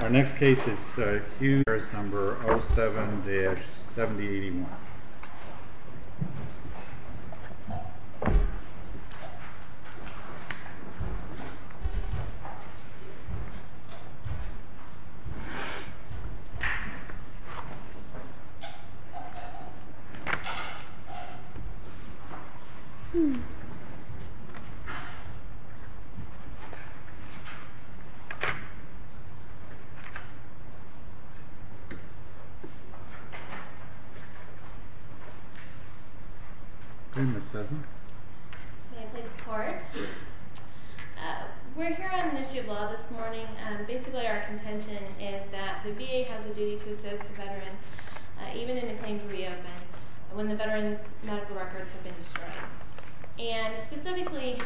Our next case is Hugh, number 07-7081. We're here on an issue of law this morning. Basically our contention is that the VA has a duty to assist a veteran, even in a claim to be opened, when the veteran's medical records have been destroyed. Specifically,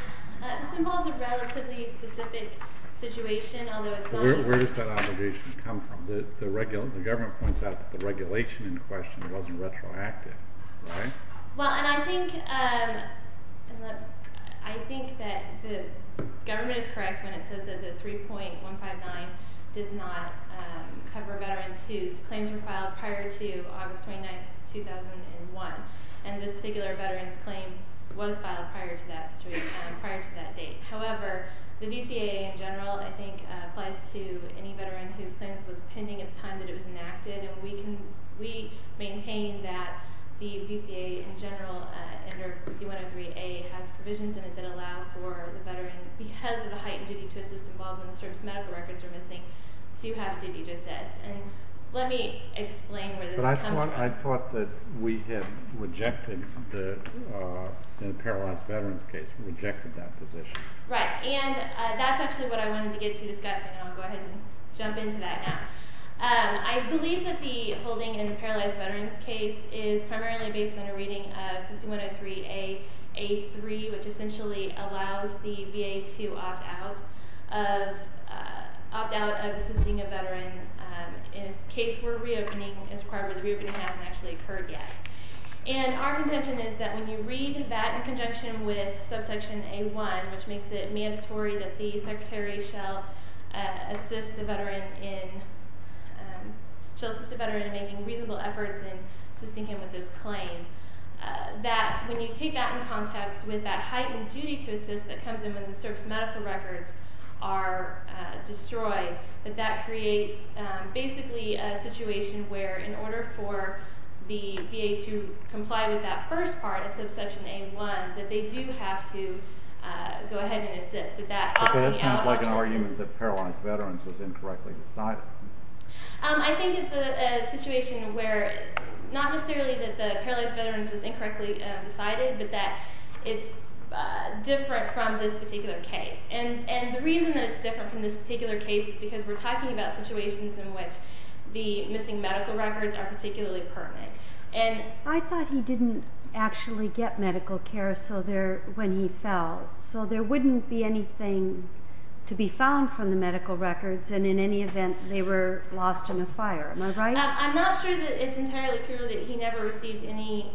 this involves a relatively specific situation. Where does that obligation come from? The government points out that the regulation in question wasn't retroactive, right? Well, I think that the government is correct when it says that the 3.159 does not cover veterans whose claims were filed prior to August 29, 2001. And this particular veteran's claim was filed prior to that date. However, the VCA in general, I think, applies to any veteran whose claims was pending at the time that it was enacted. And we maintain that the VCA in general, under D-103A, has provisions in it that allow for the veteran, because of the heightened duty to assist involved when the service medical records are missing, to have a duty to assist. And let me explain where this comes from. But I thought that we had rejected the paralyzed veteran's case. We rejected that position. Right. And that's actually what I wanted to get to discussing, and I'll go ahead and jump into that now. I believe that the holding in the paralyzed veteran's case is primarily based on a reading of 5103A.A.3, which essentially allows the VA to opt out of assisting a veteran in a case where reopening is required, but the reopening hasn't actually occurred yet. And our contention is that when you read that in conjunction with subsection A-1, which makes it mandatory that the secretary shall assist the veteran in making reasonable efforts in assisting him with his claim, that when you take that in context with that heightened duty to assist that comes in when the service medical records are destroyed, that that creates basically a situation where, in order for the VA to comply with that first part of subsection A-1, that they do have to go ahead and assist. But that seems like an argument that paralyzed veterans was incorrectly decided. I think it's a situation where not necessarily that the paralyzed veterans was incorrectly decided, but that it's different from this particular case. And the reason that it's different from this particular case is because we're talking about situations in which the missing medical records are particularly pertinent. I thought he didn't actually get medical care when he fell. So there wouldn't be anything to be found from the medical records, and in any event, they were lost in a fire. Am I right? I'm not sure that it's entirely true that he never received any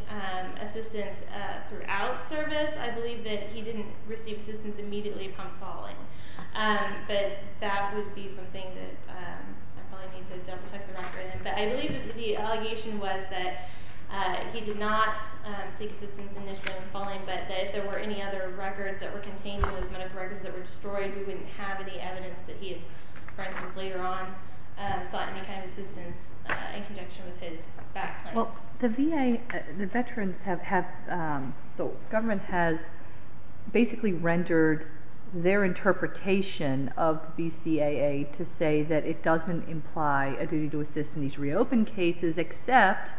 assistance throughout service. I believe that he didn't receive assistance immediately upon falling. But that would be something that I probably need to double-check the record. But I believe that the allegation was that he did not seek assistance initially upon falling, but that if there were any other records that were contained in those medical records that were destroyed, we wouldn't have any evidence that he, for instance, later on, sought any kind of assistance in conjunction with his back claim. Well, the VA, the veterans have, the government has basically rendered their interpretation of VCAA to say that it doesn't imply a duty to assist in these reopened cases, except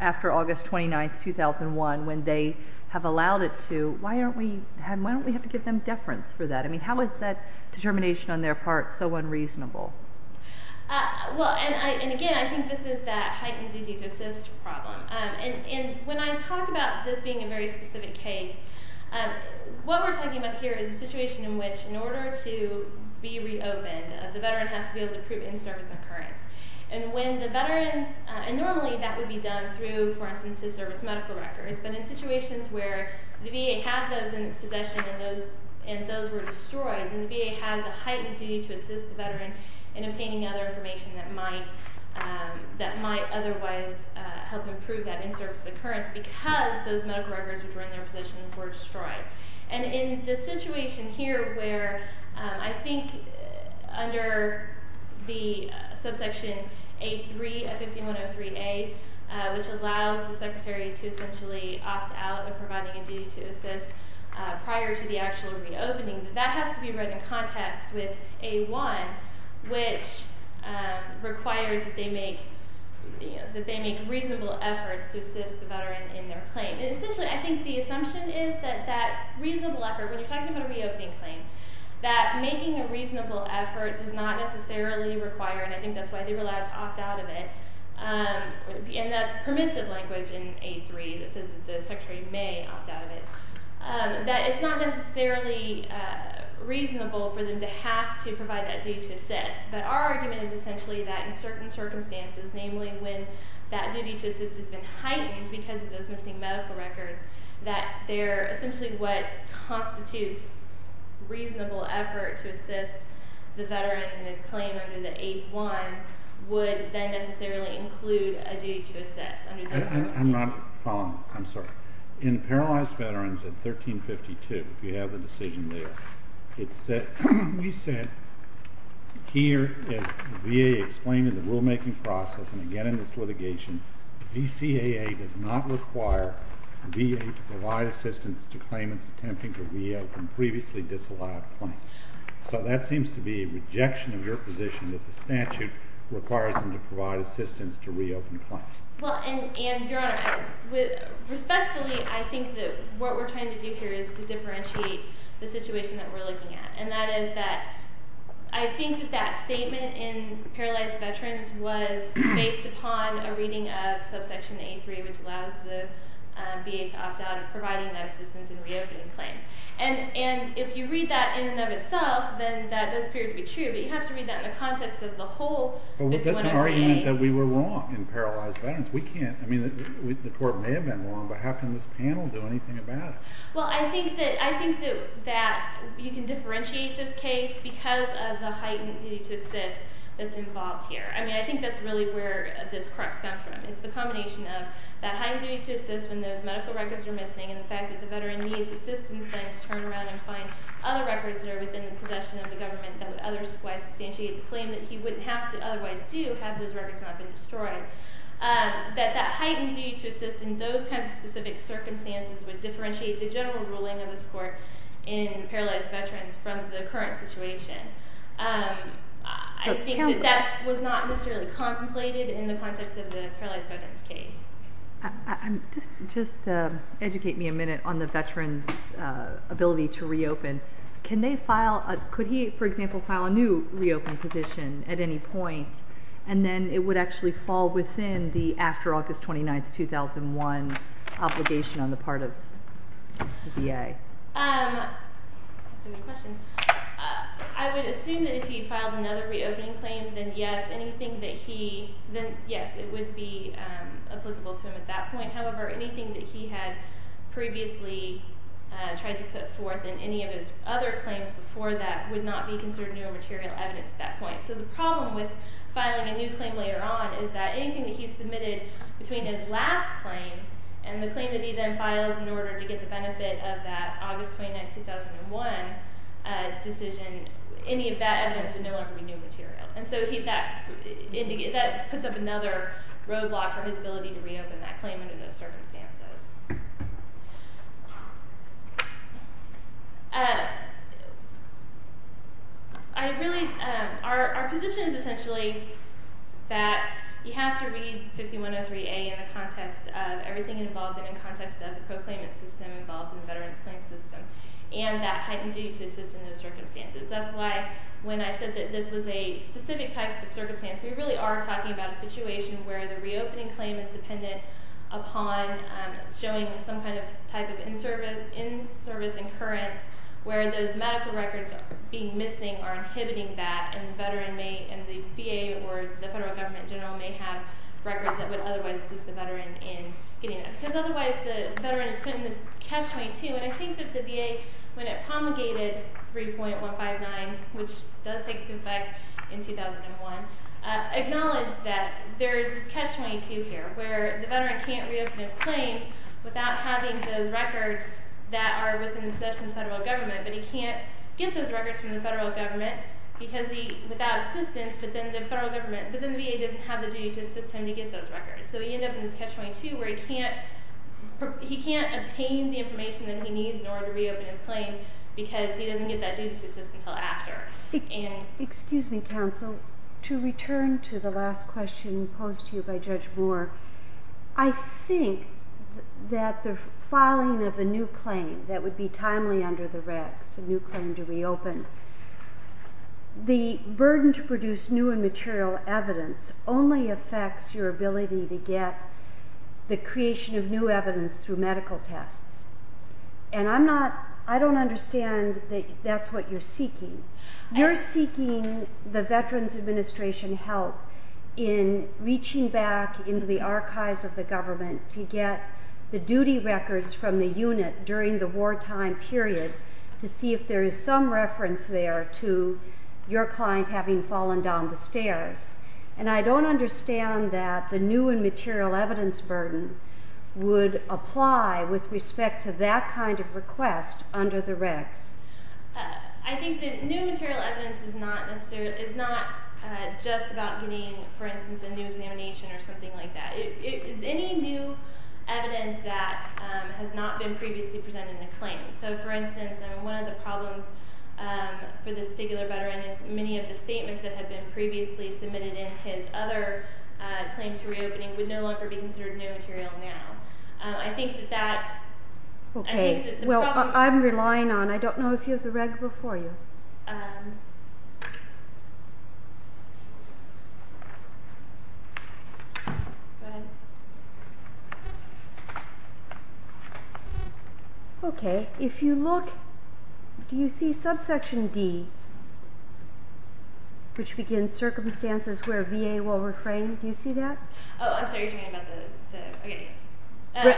after August 29, 2001, when they have allowed it to. Why don't we have to give them deference for that? I mean, how is that determination on their part so unreasonable? Well, and again, I think this is that heightened duty to assist problem. And when I talk about this being a very specific case, what we're talking about here is a situation in which, in order to be reopened, the veteran has to be able to prove in-service occurrence. And when the veterans, and normally that would be done through, for instance, his service medical records. But in situations where the VA had those in his possession and those were destroyed, then the VA has a heightened duty to assist the veteran in obtaining other information that might otherwise help improve that in-service occurrence because those medical records which were in their possession were destroyed. And in the situation here where I think under the subsection A3 of 5103A, which allows the secretary to essentially opt out of providing a duty to assist prior to the actual reopening, that has to be read in context with A1, which requires that they make reasonable efforts to assist the veteran in their claim. And essentially, I think the assumption is that that reasonable effort, when you're talking about a reopening claim, that making a reasonable effort does not necessarily require, and I think that's why they were allowed to opt out of it, and that's permissive language in A3 that says that the secretary may opt out of it, that it's not necessarily reasonable for them to have to provide that duty to assist. But our argument is essentially that in certain circumstances, namely when that duty to assist has been heightened because of those missing medical records, that they're essentially what constitutes reasonable effort to assist the veteran in his claim under the A1 would then necessarily include a duty to assist under those circumstances. I'm sorry. In Paralyzed Veterans at 1352, if you have the decision there, we said here as the VA explained in the rulemaking process and again in this litigation, VCAA does not require VA to provide assistance to claimants attempting to reopen previously disallowed claims. So that seems to be a rejection of your position that the statute requires them to provide assistance to reopen claims. Well, and Your Honor, respectfully, I think that what we're trying to do here is to differentiate the situation that we're looking at, and that is that I think that that statement in Paralyzed Veterans was based upon a reading of subsection A3, which allows the VA to opt out of providing that assistance in reopening claims. And if you read that in and of itself, then that does appear to be true, but you have to read that in the context of the whole. That's an argument that we were wrong in Paralyzed Veterans. We can't. I mean, the court may have been wrong, but how can this panel do anything about it? Well, I think that you can differentiate this case because of the heightened duty to assist that's involved here. I mean, I think that's really where this crux comes from. It's the combination of that heightened duty to assist when those medical records are missing and the fact that the veteran needs assistance to turn around and find other records that are within the possession of the government that would otherwise substantiate the claim that he wouldn't have to otherwise do have those records not been destroyed. That that heightened duty to assist in those kinds of specific circumstances would differentiate the general ruling of this court in Paralyzed Veterans from the current situation. I think that that was not necessarily contemplated in the context of the Paralyzed Veterans case. Just educate me a minute on the veteran's ability to reopen. Could he, for example, file a new reopen petition at any point, and then it would actually fall within the after August 29, 2001 obligation on the part of the VA? That's a good question. I would assume that if he filed another reopening claim, then yes, it would be applicable to him at that point. However, anything that he had previously tried to put forth in any of his other claims before that would not be considered new or material evidence at that point. The problem with filing a new claim later on is that anything that he submitted between his last claim and the claim that he then files in order to get the benefit of that August 29, 2001 decision, any of that evidence would no longer be new material. That puts up another roadblock for his ability to reopen that claim under those circumstances. Our position is essentially that you have to read 5103A in the context of everything involved and in context of the proclaimant system involved in the Veterans Claims System and that heightened duty to assist in those circumstances. That's why when I said that this was a specific type of circumstance, we really are talking about a situation where the reopening claim is dependent upon showing some kind of type of in-service incurrence where those medical records are being missing or inhibiting that. The VA or the federal government general may have records that would otherwise assist the veteran in getting it because otherwise the veteran is put in this catch-22. I think that the VA, when it promulgated 3.159, which does take effect in 2001, acknowledged that there is this catch-22 here where the veteran can't reopen his claim without having those records that are within the possession of the federal government. He can't get those records from the federal government without assistance, but then the VA doesn't have the duty to assist him to get those records. He ends up in this catch-22 where he can't obtain the information that he needs in order to reopen his claim because he doesn't get that duty to assist until after. Excuse me, counsel. To return to the last question posed to you by Judge Moore, I think that the filing of a new claim that would be timely under the regs, a new claim to reopen, the burden to produce new and material evidence only affects your ability to get the creation of new evidence through medical tests. I don't understand that that's what you're seeking. You're seeking the Veterans Administration help in reaching back into the archives of the government to get the duty records from the unit during the wartime period to see if there is some reference there to your client having fallen down the stairs. And I don't understand that the new and material evidence burden would apply with respect to that kind of request under the regs. I think that new material evidence is not just about getting, for instance, a new examination or something like that. It's any new evidence that has not been previously presented in a claim. So, for instance, one of the problems for this particular veteran is many of the statements that have been previously submitted in his other claim to reopening would no longer be considered new material now. I think that that... Okay. Well, I'm relying on, I don't know if you have the reg before you. Go ahead. Okay. Okay. If you look, do you see subsection D, which begins circumstances where VA will refrain? Do you see that? Oh, I'm sorry. You're talking about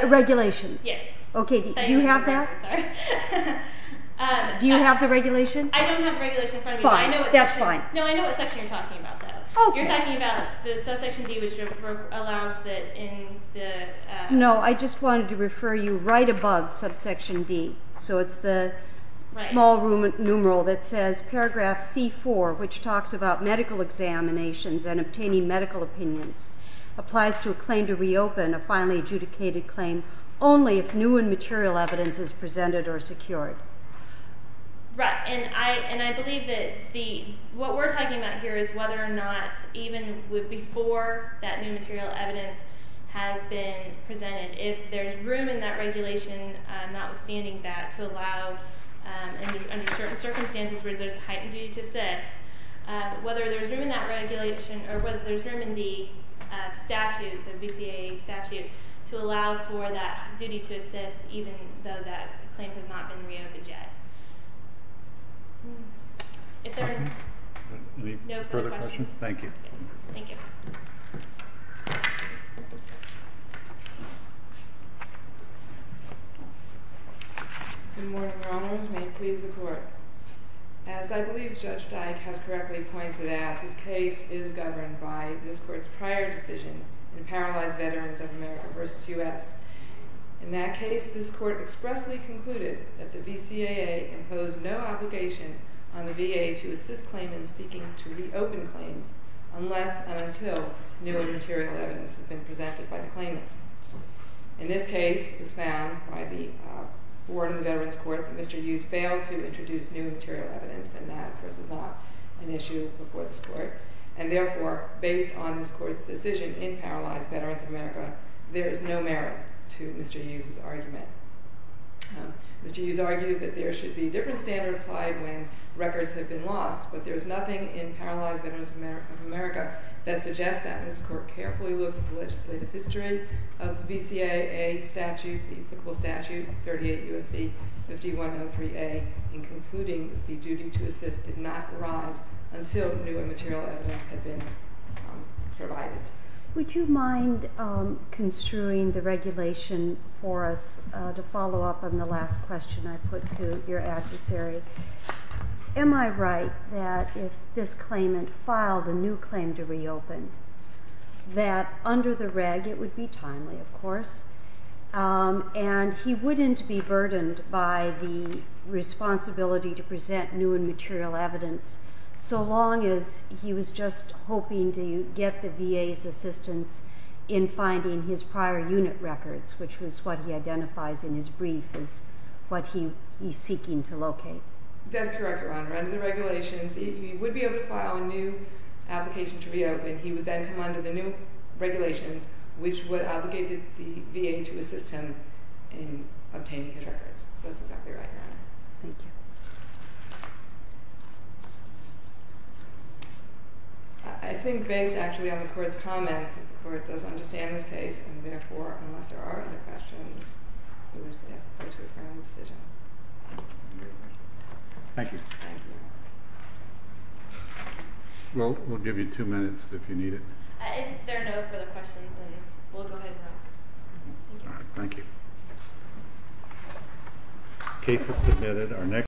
the... Regulations. Yes. Okay. Do you have that? Sorry. Do you have the regulation? I don't have the regulation in front of me. Fine. That's fine. No, I know what section you're talking about, though. Okay. You're talking about the subsection D, which allows that in the... No, I just wanted to refer you right above subsection D. So it's the small numeral that says paragraph C4, which talks about medical examinations and obtaining medical opinions, applies to a claim to reopen, a finally adjudicated claim, only if new and material evidence is presented or secured. Right. And I believe that the... What we're talking about here is whether or not even before that new material evidence has been presented, if there's room in that regulation, notwithstanding that, to allow under certain circumstances where there's a heightened duty to assist, whether there's room in that regulation or whether there's room in the statute, the BCAA statute, to allow for that duty to assist even though that claim has not been reopened. Okay. Any further questions? Thank you. Thank you. Good morning, Rommers. May it please the Court. As I believe Judge Dyke has correctly pointed out, this case is governed by this Court's prior decision in Paralyzed Veterans of America v. U.S. In that case, this Court expressly concluded that the BCAA imposed no obligation on the VA to assist claimants seeking to reopen claims unless and until new and material evidence has been presented by the claimant. In this case, it was found by the Board of the Veterans Court that Mr. Hughes failed to introduce new material evidence, and that, of course, is not an issue before this Court. And therefore, based on this Court's decision in Paralyzed Veterans of America, there is no merit to Mr. Hughes's argument. Mr. Hughes argues that there should be a different standard applied when records have been lost, but there is nothing in Paralyzed Veterans of America that suggests that. And this Court carefully looked at the legislative history of the BCAA statute, the applicable statute, 38 U.S.C. 5103A, and concluding that the duty to assist did not arise until new and material evidence had been provided. Would you mind construing the regulation for us to follow up on the last question I put to your adversary? Am I right that if this claimant filed a new claim to reopen, that under the reg it would be timely, of course, and he wouldn't be burdened by the responsibility to present new and material evidence so long as he was just hoping to get the VA's assistance in finding his prior unit records, which was what he identifies in his brief as what he is seeking to locate? That's correct, Your Honor. Under the regulations, he would be able to file a new application to reopen. He would then come under the new regulations, which would obligate the VA to assist him in obtaining his records. So that's exactly right, Your Honor. Thank you. I think based actually on the Court's comments that the Court does understand this case, and therefore, unless there are other questions, we will just ask the Court to affirm the decision. Thank you. Thank you. We'll give you two minutes if you need it. If there are no further questions, we'll go ahead and ask. Thank you. All right. Thank you. The case is submitted.